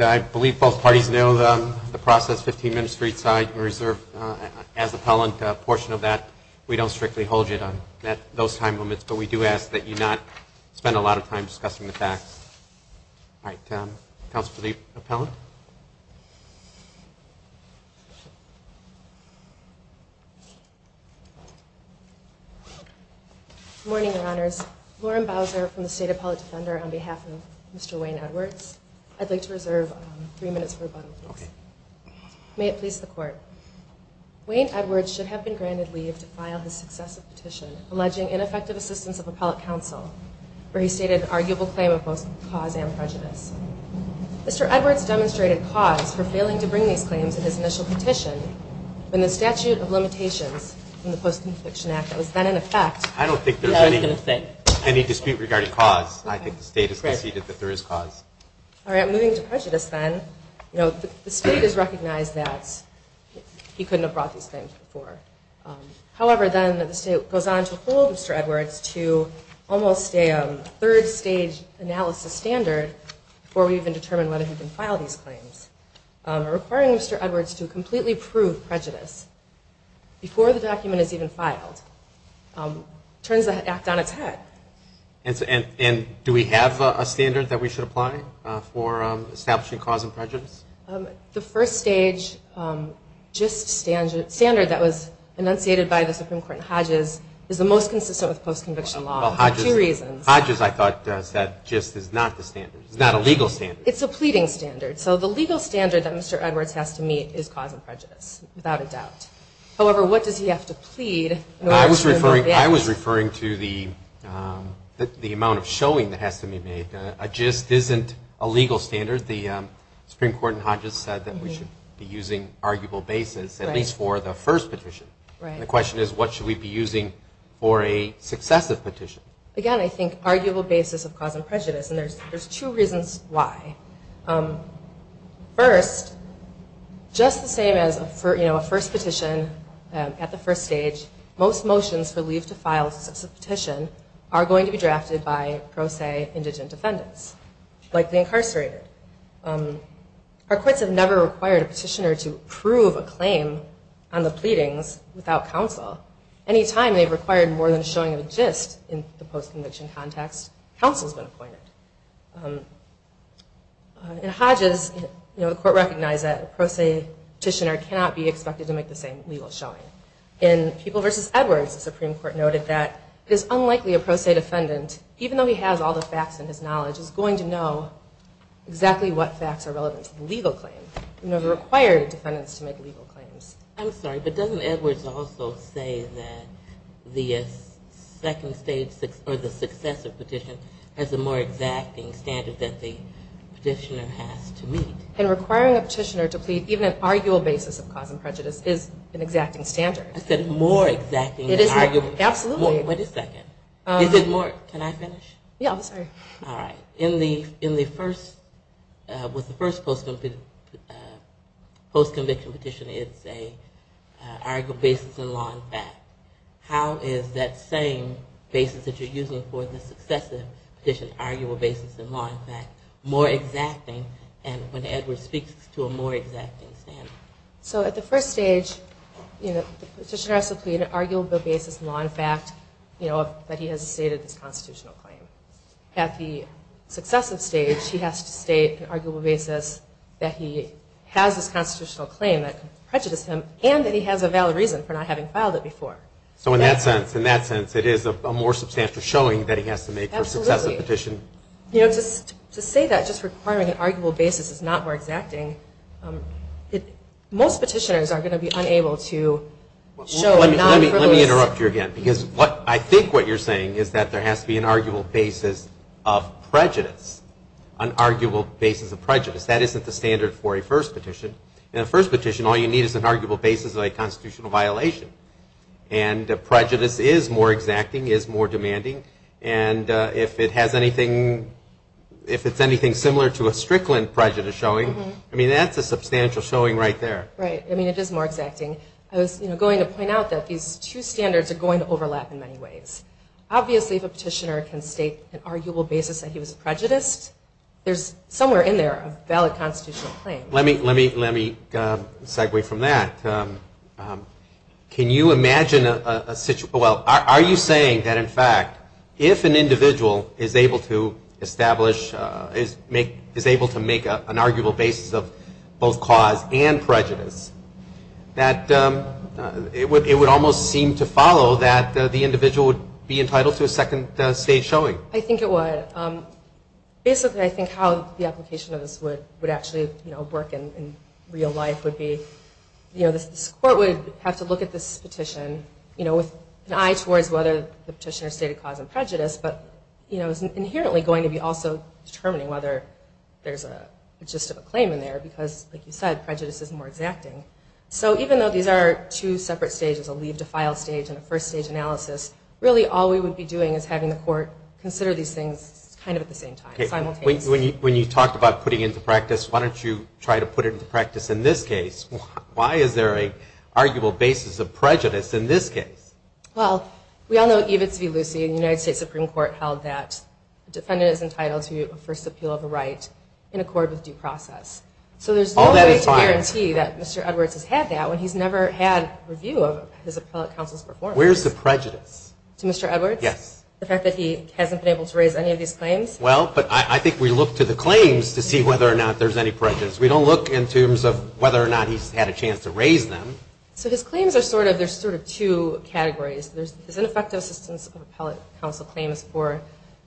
I believe both parties know the process. 15 minutes for each side. We reserve as appellant a portion of that. We don't strictly hold you to those time limits, but we do ask that you not spend a lot of time discussing the facts. All right. Counsel for the appellant. Morning, Your Honors. Lauren Bowser from the State Appellate Defender on behalf of Mr. Wayne Edwards. I'd like to reserve three minutes for rebuttal. May it please the Court. Wayne Edwards should have been granted leave to file his successive petition alleging ineffective assistance of appellate counsel, where he stated an arguable claim of both cause and prejudice. Mr. Edwards demonstrated cause for failing to bring these claims in his initial petition when the statute of limitations in the Post-Confliction Act that was then in effect. I don't think there's any dispute regarding cause. I think the State has conceded that there is cause. All right. Moving to prejudice then. The State has recognized that he couldn't have brought these claims before. However, then the State goes on to hold Mr. Edwards to almost a third-stage analysis standard before we even determine whether he can file these claims, requiring Mr. Edwards to completely prove prejudice before the document is even filed. Turns the act on its head. And do we have a standard that we should apply for establishing cause and prejudice? The first-stage JIST standard that was enunciated by the Supreme Court in Hodges is the most consistent with post-conviction law for two reasons. Hodges, I thought, said JIST is not the standard. It's not a legal standard. It's a pleading standard. So the legal standard that Mr. Edwards has to meet is cause and prejudice, without a doubt. However, what does he have to plead in order to remove evidence? I was referring to the amount of showing that has to be made. JIST isn't a legal standard. The Supreme Court in Hodges said that we should be using arguable basis, at least for the first petition. The question is, what should we be using for a successive petition? Again, I think arguable basis of cause and prejudice, and there's two reasons why. First, just the same as a first petition at the first stage, most motions for leave to file a petition are going to be drafted by, pro se, indigent defendants, likely incarcerated. Our courts have never required a petitioner to prove a claim on the pleadings without counsel. Any time they've required more than showing a JIST in the post-conviction context, counsel's been appointed. In Hodges, the court recognized that a pro se petitioner cannot be expected to make the same legal showing. In People v. Edwards, the Supreme Court noted that it is unlikely a pro se defendant, even though he has all the facts and his knowledge, is going to know exactly what facts are relevant to the legal claim. It would require defendants to make legal claims. I'm sorry, but doesn't Edwards also say that the second stage, or the successive petition, has a more exacting standard that the petitioner has to meet? And requiring a petitioner to plead even an arguable basis of cause and prejudice is an exacting standard. I said more exacting than arguable. Absolutely. Wait a second. Is it more, can I finish? Yeah, I'm sorry. All right. In the first, with the first post-conviction petition, it's an arguable basis in law and fact. How is that same basis that you're using for the successive petition, arguable basis in law and fact, more exacting when Edwards speaks to a more exacting standard? So at the first stage, the petitioner has to plead an arguable basis in law and fact that he has stated this constitutional claim. At the successive stage, he has to state an arguable basis that he has this constitutional claim that could prejudice him, and that he has a valid reason for not having filed it before. So in that sense, it is a more substantial showing that he has to make for a successive petition. You know, to say that just requiring an arguable basis is not more exacting, most petitioners are going to be unable to show a non-frivolous... Let me interrupt you again, because I think what you're saying is that there has to be an arguable basis of prejudice, an arguable basis of prejudice. That isn't the standard for a first petition. In a first petition, all you need is an arguable basis of a constitutional violation. And prejudice is more exacting, is more demanding. And if it has anything, if it's anything similar to a Strickland prejudice showing, I mean, that's a substantial showing right there. Right. I mean, it is more exacting. I was going to point out that these two standards are going to overlap in many ways. Obviously, if a petitioner can state an arguable basis that he was prejudiced, there's somewhere in there a valid constitutional claim. Let me segue from that. Can you imagine a... Well, are you saying that, in fact, if an individual is able to establish, is able to make an arguable basis of both cause and prejudice, that it would almost seem to follow that the individual would be entitled to a second stage showing? I think it would. Basically, I think how the application of this would actually work in real life would be, this court would have to look at this petition with an eye towards whether the petitioner stated cause and prejudice, but it's inherently going to be also determining whether there's a gist of a claim in there, because, like you said, prejudice is more exacting. So even though these are two separate stages, a leave to file stage and a first stage analysis, really all we would be doing is having the court consider these things kind of at the same time, simultaneously. When you talked about putting into practice, why don't you try to put it into practice in this case? Why is there an arguable basis of prejudice in this case? Well, we all know Evitz v. Lucey in the United States Supreme Court held that a defendant is entitled to a first appeal of a right in accord with due process. So there's no way to guarantee that Mr. Edwards has had that when he's never had review of his appellate counsel's performance. Where's the prejudice? To Mr. Edwards? Yes. The fact that he hasn't been able to raise any of these claims? Well, but I think we look to the claims to see whether or not there's any prejudice. We don't look in terms of whether or not he's had a chance to raise them. So his claims are sort of, there's sort of two categories. There's ineffective assistance of appellate counsel claims for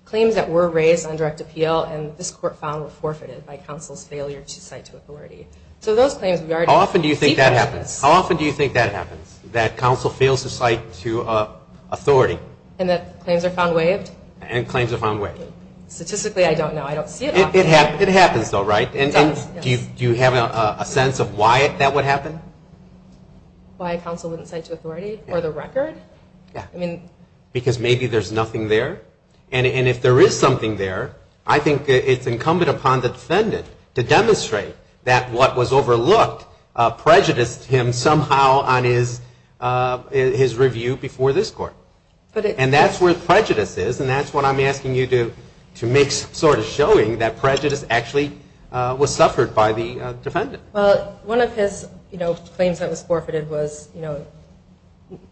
claims that were raised on direct appeal and this court found were forfeited by counsel's failure to cite to authority. So those claims we already see prejudice. How often do you think that happens? That counsel fails to cite to authority. And that claims are found waived? And claims are found waived. Statistically, I don't know. I don't see it often. It happens though, right? It does, yes. And do you have a sense of why that would happen? Why counsel wouldn't cite to authority or the record? Yeah. I mean. Because maybe there's nothing there and if there is something there, I think it's incumbent upon the defendant to demonstrate that what was overlooked prejudiced him somehow on his review before this court. And that's where prejudice is and that's what I'm asking you to make sort of showing, that prejudice actually was suffered by the defendant. Well, one of his, you know, claims that was forfeited was, you know,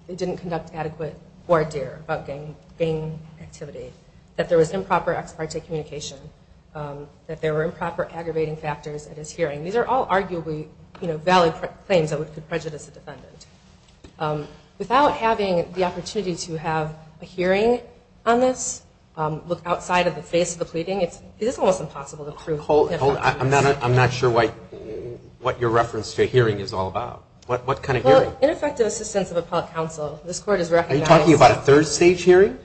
it didn't conduct adequate voir dire about gang activity. That there was improper ex parte communication. That there were improper aggravating factors at his hearing. These are all arguably, you know, valid claims that could prejudice a defendant. Without having the opportunity to have a hearing on this, look outside of the face of the pleading, it is almost impossible to prove. Hold on. I'm not sure what your reference to hearing is all about. What kind of hearing? Well, ineffective assistance of appellate counsel. Are you talking about a third stage hearing?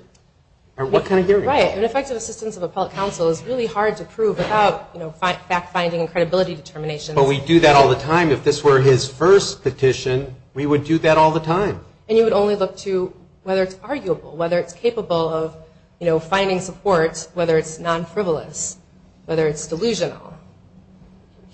Or what kind of hearing? Right. Ineffective assistance of appellate counsel is really hard to prove without, you know, fact-finding and credibility determination. But we do that all the time. If this were his first petition, we would do that all the time. And you would only look to whether it's arguable, whether it's capable of, you know, finding support, whether it's non-frivolous, whether it's delusional.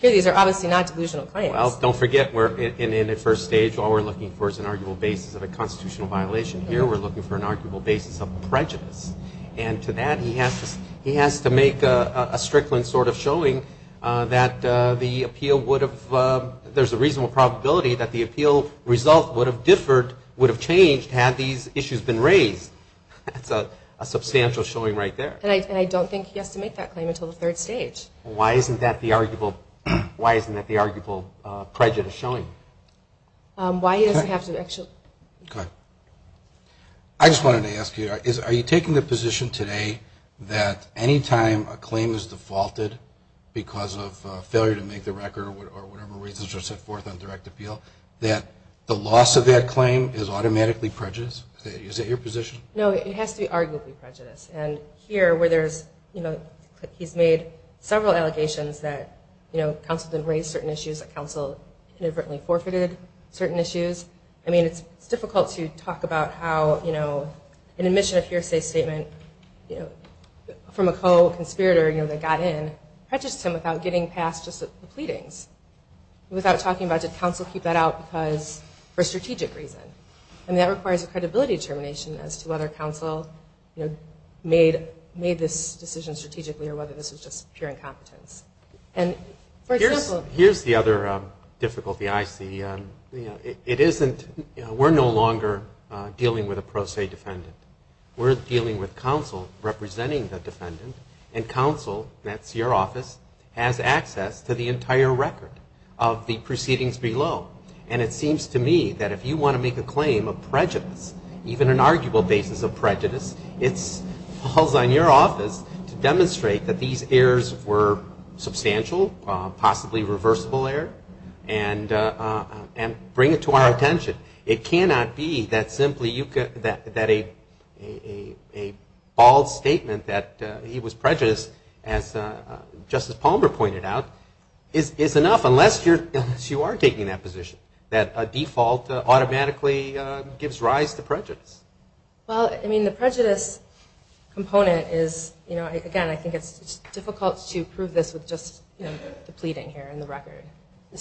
These are obviously not delusional claims. Well, don't forget, in a first stage, all we're looking for is an arguable basis of a constitutional violation. Here we're looking for an arguable basis of prejudice. And to that he has to make a strickland sort of showing that the appeal would have ‑‑ there's a reasonable probability that the appeal result would have differed, would have changed had these issues been raised. That's a substantial showing right there. And I don't think he has to make that claim until the third stage. Why isn't that the arguable prejudice showing? Why he doesn't have to actually ‑‑ Go ahead. I just wanted to ask you, are you taking the position today that any time a claim is defaulted because of failure to make the record or whatever reasons are set forth on direct appeal, that the loss of that claim is automatically prejudice? Is that your position? No, it has to be arguably prejudice. And here where there's, you know, he's made several allegations that, you know, counsel didn't raise certain issues, that counsel inadvertently forfeited certain issues. I mean, it's difficult to talk about how, you know, an admission of hearsay statement from a co‑conspirator, you know, that got in prejudiced him without getting past just the pleadings, without talking about did counsel keep that out because for a strategic reason. I mean, that requires a credibility determination as to whether counsel, you know, made this decision strategically or whether this was just pure incompetence. Here's the other difficulty I see. It isn't ‑‑ we're no longer dealing with a pro se defendant. We're dealing with counsel representing the defendant, and counsel, that's your office, has access to the entire record of the proceedings below. And it seems to me that if you want to make a claim of prejudice, even an arguable basis of prejudice, it falls on your office to demonstrate that these errors were substantial, possibly reversible error, and bring it to our attention. It cannot be that simply a bald statement that he was prejudiced, as Justice Palmer pointed out, is enough unless you are taking that position, that a default automatically gives rise to prejudice. Well, I mean, the prejudice component is, you know, again, I think it's difficult to prove this with just the pleading here and the record.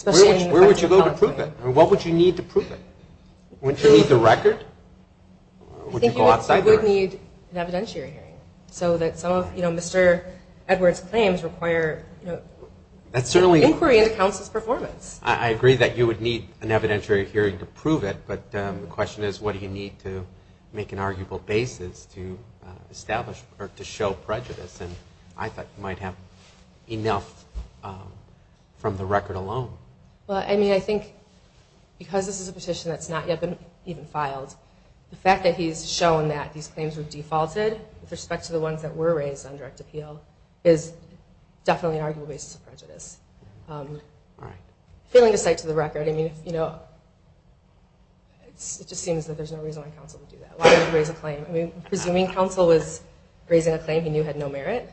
Where would you go to prove it? I mean, what would you need to prove it? Wouldn't you need the record? I think you would need an evidentiary hearing so that some of, you know, Mr. Edwards' claims require inquiry into counsel's performance. I agree that you would need an evidentiary hearing to prove it, but the question is what do you need to make an arguable basis to establish or to show prejudice? And I thought you might have enough from the record alone. Well, I mean, I think because this is a petition that's not yet been even filed, the fact that he's shown that these claims were defaulted with respect to the ones that were raised on direct appeal is definitely an arguable basis of prejudice. All right. Failing to cite to the record, I mean, you know, it just seems that there's no reason why counsel would do that. Why would he raise a claim? I mean, presuming counsel was raising a claim he knew had no merit.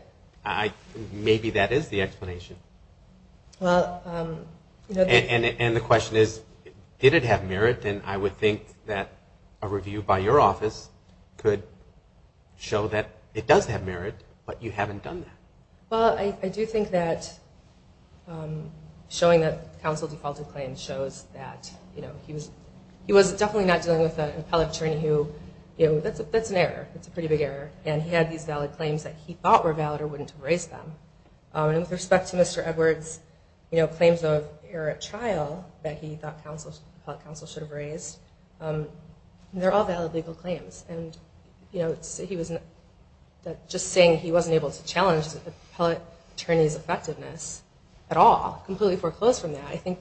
Maybe that is the explanation. And the question is, did it have merit? Then I would think that a review by your office could show that it does have merit, but you haven't done that. Well, I do think that showing that counsel defaulted claims shows that, you know, he was definitely not dealing with an appellate attorney who, you know, that's an error, that's a pretty big error, and he had these valid claims that he thought were valid or wouldn't have raised them. And with respect to Mr. Edwards, you know, claims of error at trial that he thought appellate counsel should have raised, they're all valid legal claims. And, you know, just saying he wasn't able to challenge the appellate attorney's effectiveness at all, completely foreclosed from that, I think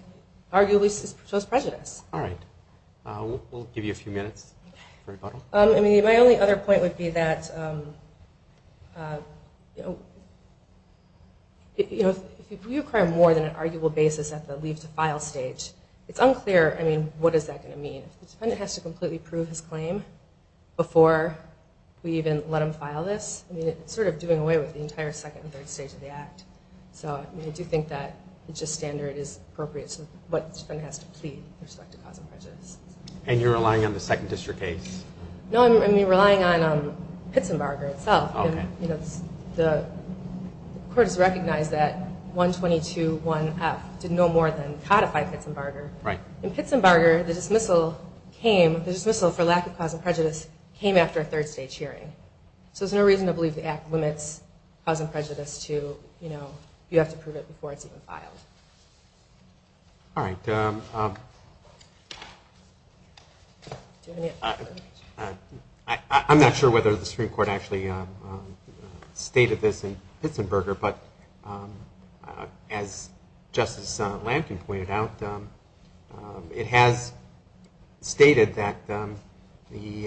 arguably shows prejudice. All right. We'll give you a few minutes for rebuttal. I mean, my only other point would be that, you know, if you acquire more than an arguable basis at the leave to file stage, it's unclear, I mean, what is that going to mean? If the defendant has to completely prove his claim before we even let him file this, I mean, it's sort of doing away with the entire second and third stage of the act. So I do think that the gist standard is appropriate to what the defendant has to plead with respect to cause of prejudice. And you're relying on the second district case? No, I mean, relying on Pitzenbarger itself. Okay. You know, the court has recognized that 122-1F did no more than codify Pitzenbarger. Right. In Pitzenbarger, the dismissal came, the dismissal for lack of cause of prejudice, came after a third stage hearing. So there's no reason to believe the act limits cause of prejudice to, you know, you have to prove it before it's even filed. All right. I'm not sure whether the Supreme Court actually stated this in Pitzenbarger, but as Justice Lampkin pointed out, it has stated that the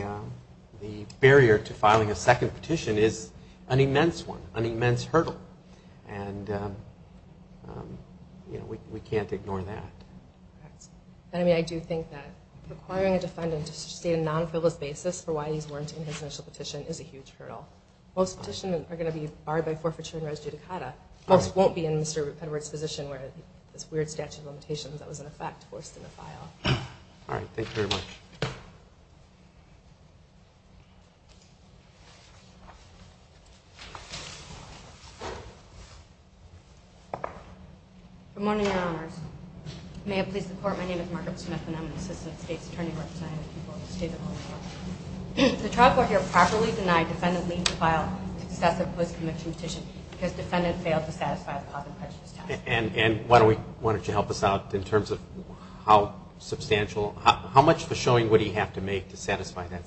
barrier to filing a second petition is an immense one, an immense hurdle. And, you know, we can't ignore that. Right. I mean, I do think that requiring a defendant to state a non-frivolous basis for why these weren't in his initial petition is a huge hurdle. Most petitions are going to be barred by forfeiture and res judicata. Most won't be in Mr. Peddard's position where this weird statute of limitations that was in effect forced him to file. All right. Thank you very much. Good morning, Your Honors. May it please the Court, my name is Margaret Smith, and I'm an assistant state's attorney representing the people of the state of Oklahoma. The trial court here properly denied defendant leave to file a successive post-conviction petition because defendant failed to satisfy the cause and prejudice test. And why don't you help us out in terms of how substantial, how much of a showing would he have to make to satisfy that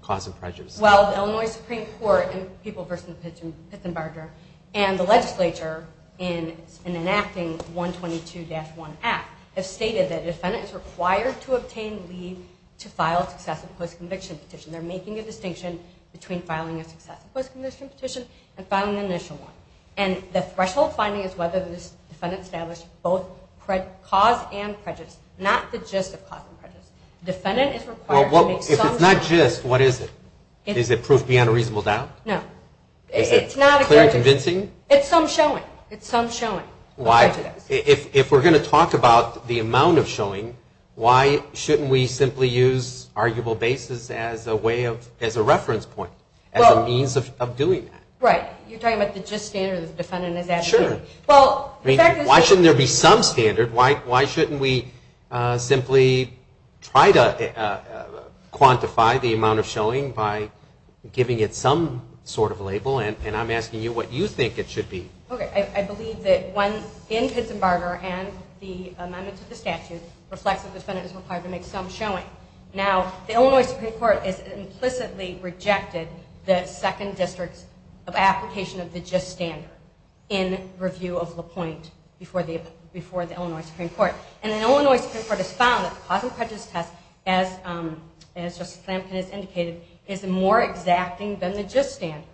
cause and prejudice test? Well, the Illinois Supreme Court in People v. Pitzenbarger and the legislature in enacting the 122-1 Act have stated that they're making a distinction between filing a successive post-conviction petition and filing an initial one. And the threshold finding is whether this defendant established both cause and prejudice, not the gist of cause and prejudice. The defendant is required to make some showing. Well, if it's not gist, what is it? Is it proof beyond a reasonable doubt? No. Is it clear and convincing? It's some showing. It's some showing. Why? If we're going to talk about the amount of showing, why shouldn't we simply use arguable basis as a reference point, as a means of doing that? Right. You're talking about the gist standard the defendant has added to it. Sure. Why shouldn't there be some standard? Why shouldn't we simply try to quantify the amount of showing by giving it some sort of label? And I'm asking you what you think it should be. Okay. I believe that one in Pittsburgh and the amendment to the statute reflects that the defendant is required to make some showing. Now, the Illinois Supreme Court has implicitly rejected the second district of application of the gist standard in review of LaPointe before the Illinois Supreme Court. And the Illinois Supreme Court has found that the cause and prejudice test, as Justice Flanagan has indicated, is more exacting than the gist standard.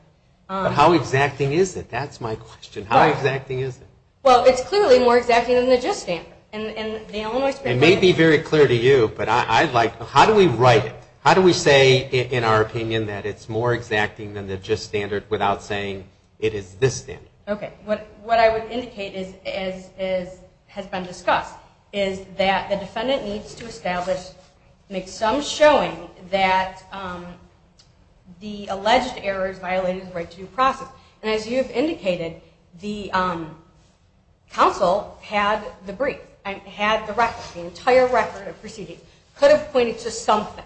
But how exacting is it? That's my question. How exacting is it? Well, it's clearly more exacting than the gist standard. It may be very clear to you, but I'd like to know, how do we write it? How do we say in our opinion that it's more exacting than the gist standard without saying it is this standard? Okay. What I would indicate as has been discussed is that the defendant needs to establish some showing that the alleged errors violated the right to due process. And as you have indicated, the counsel had the brief, had the record, the entire record of proceedings, could have pointed to something.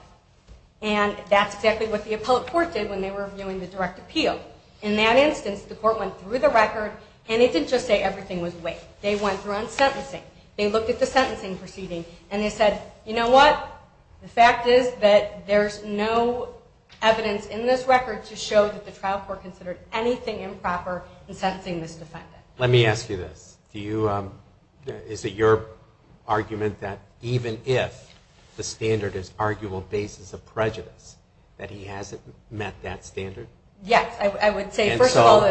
And that's exactly what the appellate court did when they were reviewing the direct appeal. In that instance, the court went through the record, and it didn't just say everything was way. They went through on sentencing. They looked at the sentencing proceeding, and they said, you know what? The fact is that there's no evidence in this record to show that the trial court considered anything improper in sentencing this defendant. Let me ask you this. Is it your argument that even if the standard is arguable basis of prejudice, that he hasn't met that standard? Yes. I would say, first of all.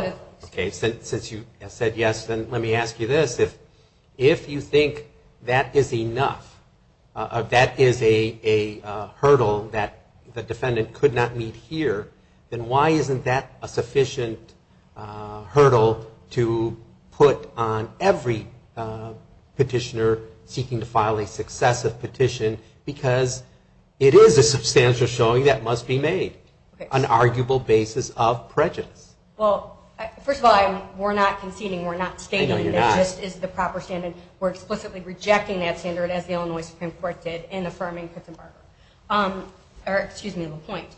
Okay. Since you said yes, then let me ask you this. If you think that is enough, that is a hurdle that the defendant could not meet here, then why isn't that a sufficient hurdle to put on every petitioner seeking to file a successive petition? Because it is a substantial showing that must be made, an arguable basis of prejudice. Well, first of all, we're not conceding. We're not stating that this is the proper standard. We're explicitly rejecting that standard, as the Illinois Supreme Court did, in affirming Pitzenberger. Or, excuse me, LaPointe.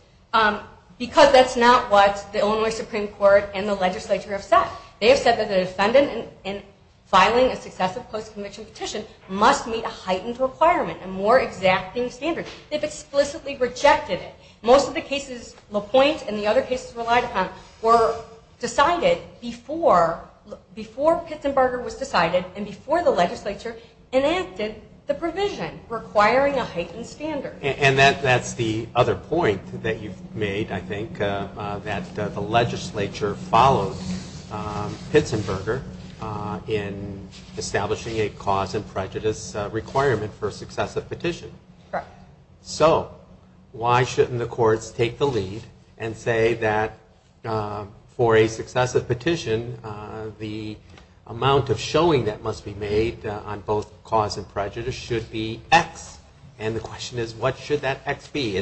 Because that's not what the Illinois Supreme Court and the legislature have said. They have said that the defendant in filing a successive post-conviction petition must meet a heightened requirement, a more exacting standard. They've explicitly rejected it. Most of the cases LaPointe and the other cases relied upon were decided before Pitzenberger was decided and before the legislature enacted the provision requiring a heightened standard. And that's the other point that you've made, I think, that the legislature followed Pitzenberger in establishing a cause and prejudice requirement for a successive petition. Correct. So why shouldn't the courts take the lead and say that for a successive petition, the amount of showing that must be made on both cause and prejudice should be X? And the question is, what should that X be?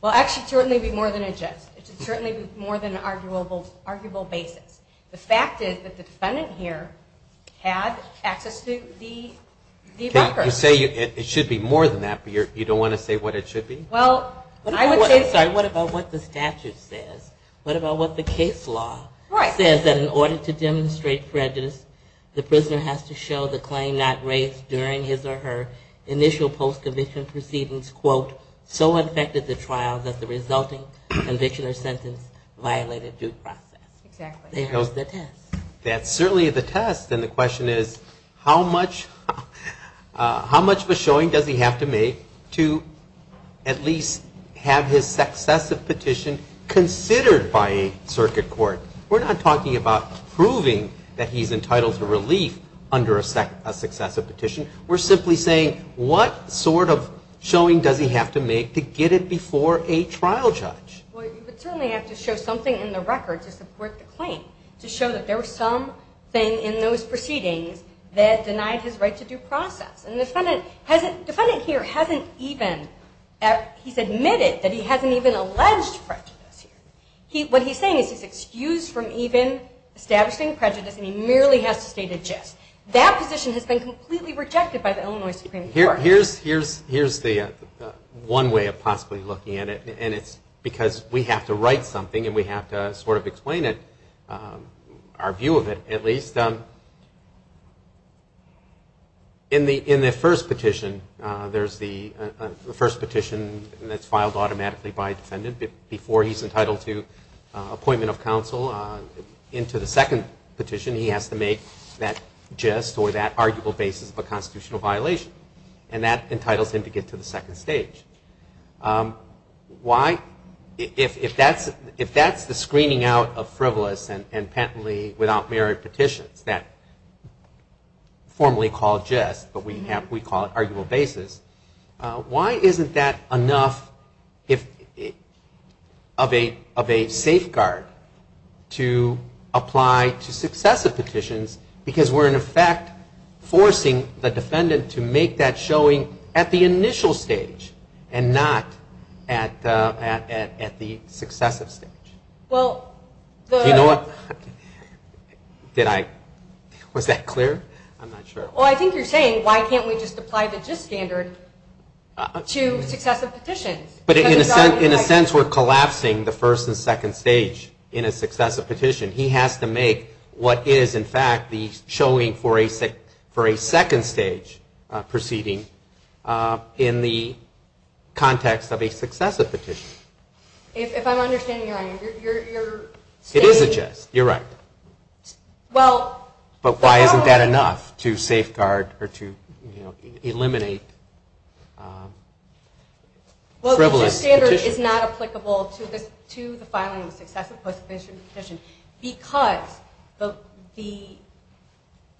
Well, X should certainly be more than a gist. It should certainly be more than an arguable basis. The fact is that the defendant here had access to the record. You say it should be more than that, but you don't want to say what it should be? Well, I would say sorry. What about what the statute says? What about what the case law says? That in order to demonstrate prejudice, the prisoner has to show the claim not raised during his or her initial post-conviction proceedings, quote, so infected the trial that the resulting conviction or sentence violated due process. Exactly. There's the test. That's certainly the test. And the question is, how much of a showing does he have to make to at least have his successive petition considered by a circuit court? We're not talking about proving that he's entitled to relief under a successive petition. We're simply saying, what sort of showing does he have to make to get it before a trial judge? Well, you would certainly have to show something in the record to support the claim, to show that there was something in those proceedings that denied his right to due process. And the defendant here hasn't even admitted that he hasn't even alleged prejudice here. What he's saying is he's excused from even establishing prejudice, and he merely has to state a gist. That position has been completely rejected by the Illinois Supreme Court. Here's the one way of possibly looking at it, and it's because we have to write something and we have to sort of explain it, our view of it at least. In the first petition, there's the first petition that's filed automatically by a defendant. Before he's entitled to appointment of counsel, into the second petition, he has to make that gist or that arguable basis of a constitutional violation, and that entitles him to get to the second stage. Why, if that's the screening out of frivolous and penitently without merit petitions, that formally called gist, but we call it arguable basis, why isn't that enough of a safeguard to apply to successive petitions, because we're in effect forcing the defendant to make that showing at the initial stage and not at the successive stage. Do you know what? Was that clear? I'm not sure. Well, I think you're saying why can't we just apply the gist standard to successive petitions? In a sense, we're collapsing the first and second stage in a successive petition. He has to make what is, in fact, the showing for a second stage proceeding in the context of a successive petition. If I'm understanding you right, you're stating... It is a gist, you're right. But why isn't that enough to safeguard or to eliminate frivolous petitions? Well, the gist standard is not applicable to the filing of a successive post-conviction petition because the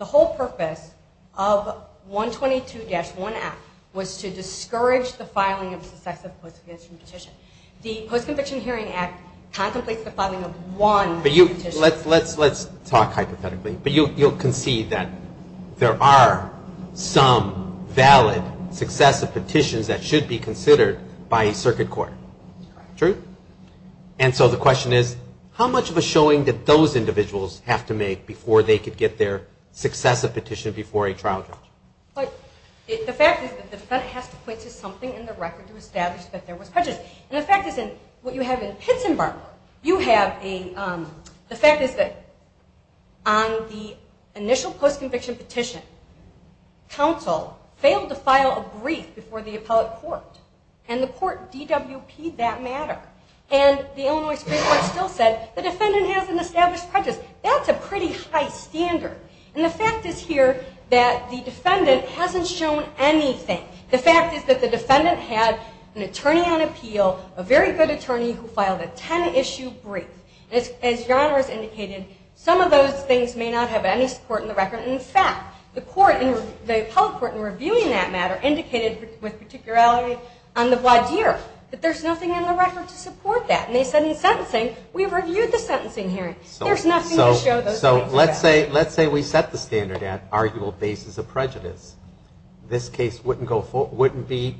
whole purpose of 122-1 Act was to discourage the filing of a successive post-conviction petition. The Post-Conviction Hearing Act contemplates the filing of one petition. Let's talk hypothetically, but you'll concede that there are some valid successive petitions that should be considered by circuit court. True? And so the question is, how much of a showing did those individuals have to make before they could get their successive petition before a trial judge? But the fact is that the defendant has to point to something in the record to establish that there was prejudice. And the fact is, what you have in Pittsburgh, you have a... The fact is that on the initial post-conviction petition, counsel failed to file a brief before the appellate court. And the court DWP'd that matter. And the Illinois Supreme Court still said, the defendant has an established prejudice. That's a pretty high standard. And the fact is here that the defendant hasn't shown anything. The fact is that the defendant had an attorney on appeal, a very good attorney who filed a 10-issue brief. As your Honor has indicated, some of those things may not have any support in the record. But in fact, the court, the appellate court in reviewing that matter, indicated with particularity on the voir dire that there's nothing in the record to support that. And they said in sentencing, we've reviewed the sentencing hearing. There's nothing to show those things. So let's say we set the standard at arguable basis of prejudice. This case wouldn't be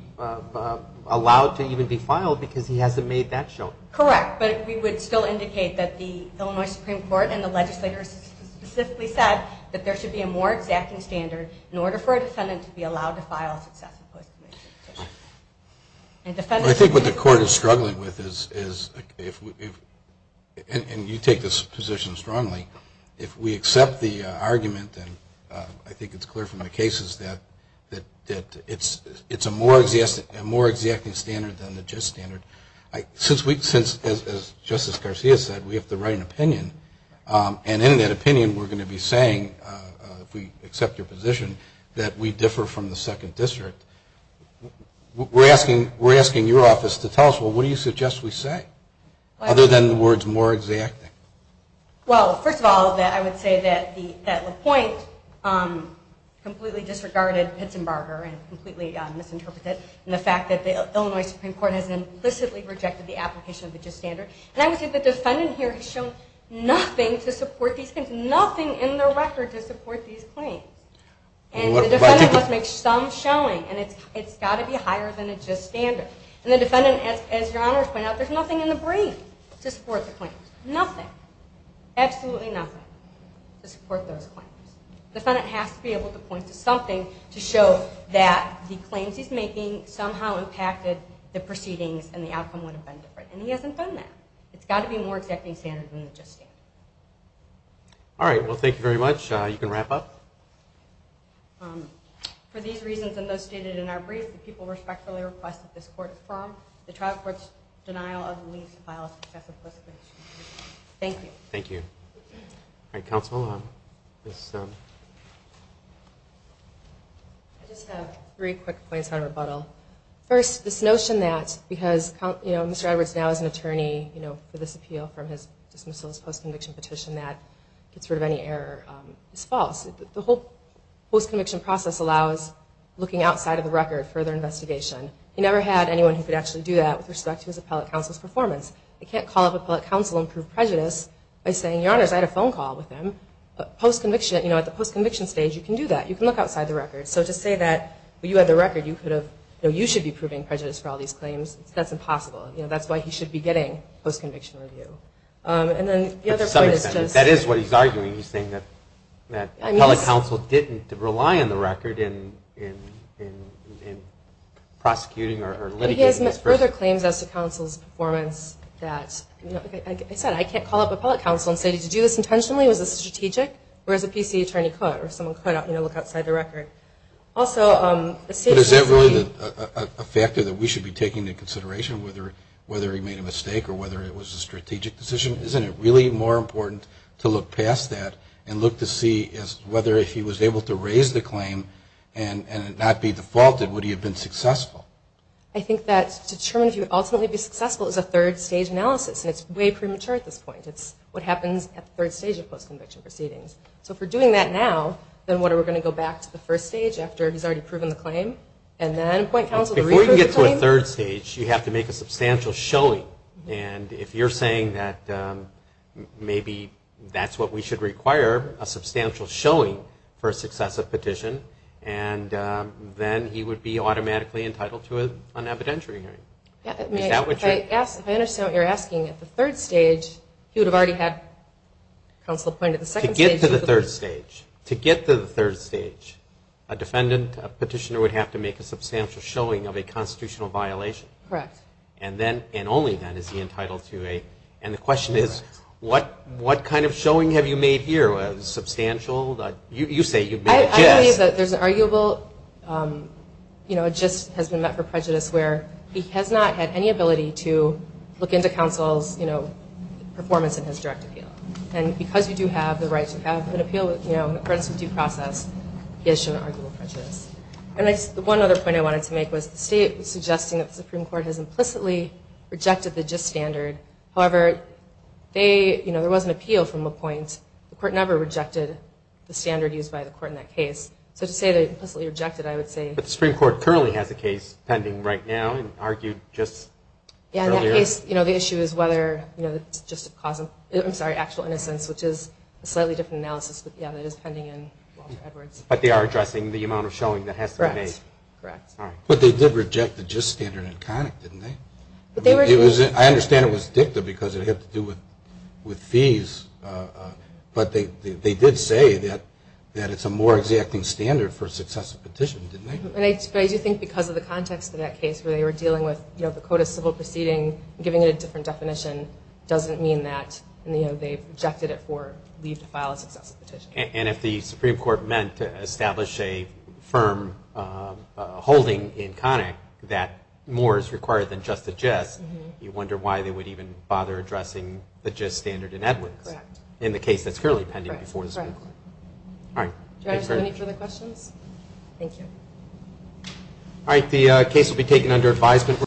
allowed to even be filed because he hasn't made that show. Correct. But we would still indicate that the Illinois Supreme Court and the legislators specifically said that there should be a more exacting standard in order for a defendant to be allowed to file a successive post-conviction. I think what the court is struggling with is, and you take this position strongly, if we accept the argument, and I think it's clear from the cases, that it's a more exacting standard than the just standard. Since, as Justice Garcia said, we have to write an opinion, and in that opinion we're going to be saying, if we accept your position, that we differ from the second district, we're asking your office to tell us, well, what do you suggest we say? Other than the words more exacting. Well, first of all, I would say that LaPointe completely disregarded Pitsenbarger and completely misinterpreted it. And the fact that the Illinois Supreme Court has implicitly rejected the application of the just standard. And I would say the defendant here has shown nothing to support these claims. Nothing in the record to support these claims. And the defendant must make some showing, and it's got to be higher than a just standard. And the defendant, as Your Honor has pointed out, there's nothing in the brief to support the claims. Nothing. Absolutely nothing to support those claims. The defendant has to be able to point to something to show that the claims he's making somehow impacted the proceedings and the outcome would have been different. And he hasn't done that. It's got to be more exacting standard than the just standard. All right. Well, thank you very much. You can wrap up. For these reasons and those stated in our brief, the people respectfully request that this court affirm the trial court's denial of the lease to file a successive list of issues. Thank you. Thank you. All right, counsel. I just have three quick points on rebuttal. First, this notion that because Mr. Edwards now is an attorney for this appeal from his dismissal, his post-conviction petition, that gets rid of any error is false. The whole post-conviction process allows looking outside of the record, further investigation. He never had anyone who could actually do that with respect to his appellate counsel's performance. They can't call up appellate counsel and prove prejudice by saying, Your Honors, I had a phone call with him. Post-conviction, you know, at the post-conviction stage, you can do that. You can look outside the record. So to say that you had the record, you should be proving prejudice for all these claims, that's impossible. That's why he should be getting post-conviction review. And then the other point is just – To some extent. That is what he's arguing. He's saying that appellate counsel didn't rely on the record in prosecuting or litigating this person. Further claims as to counsel's performance that, you know, like I said, I can't call up appellate counsel and say, Did you do this intentionally? Was this strategic? Or as a P.C. attorney could, or someone could, you know, look outside the record. Also – But is that really a factor that we should be taking into consideration, whether he made a mistake or whether it was a strategic decision? Isn't it really more important to look past that and look to see whether if he was able to raise the claim and it not be defaulted, would he have been successful? I think that to determine if he would ultimately be successful is a third-stage analysis. And it's way premature at this point. It's what happens at the third stage of post-conviction proceedings. So if we're doing that now, then what, are we going to go back to the first stage after he's already proven the claim? And then point counsel – Before you get to a third stage, you have to make a substantial showing. And if you're saying that maybe that's what we should require, a substantial showing for a successive petition, and then he would be automatically entitled to an evidentiary hearing. If I understand what you're asking, at the third stage, he would have already had counsel appointed. To get to the third stage, a defendant, a petitioner, would have to make a substantial showing of a constitutional violation. Correct. And then, and only then, is he entitled to a – and the question is, what kind of showing have you made here, a substantial – you say you've made a guess. I believe that there's an arguable, you know, a gist has been met for prejudice where he has not had any ability to look into counsel's, you know, performance in his direct appeal. And because you do have the right to have an appeal, you know, in accordance with due process, he has shown an arguable prejudice. And one other point I wanted to make was the state was suggesting that the Supreme Court has implicitly rejected the gist standard. However, they, you know, there was an appeal from a point. The court never rejected the standard used by the court in that case. So to say they implicitly rejected, I would say – But the Supreme Court currently has a case pending right now and argued just earlier. Yeah, in that case, you know, the issue is whether, you know, it's just a causal – I'm sorry, actual innocence, which is a slightly different analysis, but yeah, that is pending in Walter Edwards. But they are addressing the amount of showing that has to be made. Correct, correct. All right. But they did reject the gist standard in Connick, didn't they? They were – But they did say that it's a more exacting standard for a successive petition, didn't they? But I do think because of the context of that case where they were dealing with, you know, the code of civil proceeding, giving it a different definition doesn't mean that, you know, they've rejected it for leave to file a successive petition. And if the Supreme Court meant to establish a firm holding in Connick that more is required than just the gist, you wonder why they would even bother addressing the gist standard in Edwards. Correct. In the case that's currently pending before the Supreme Court. Correct. All right. Do I have time for any further questions? Thank you. All right. The case will be taken under advisement.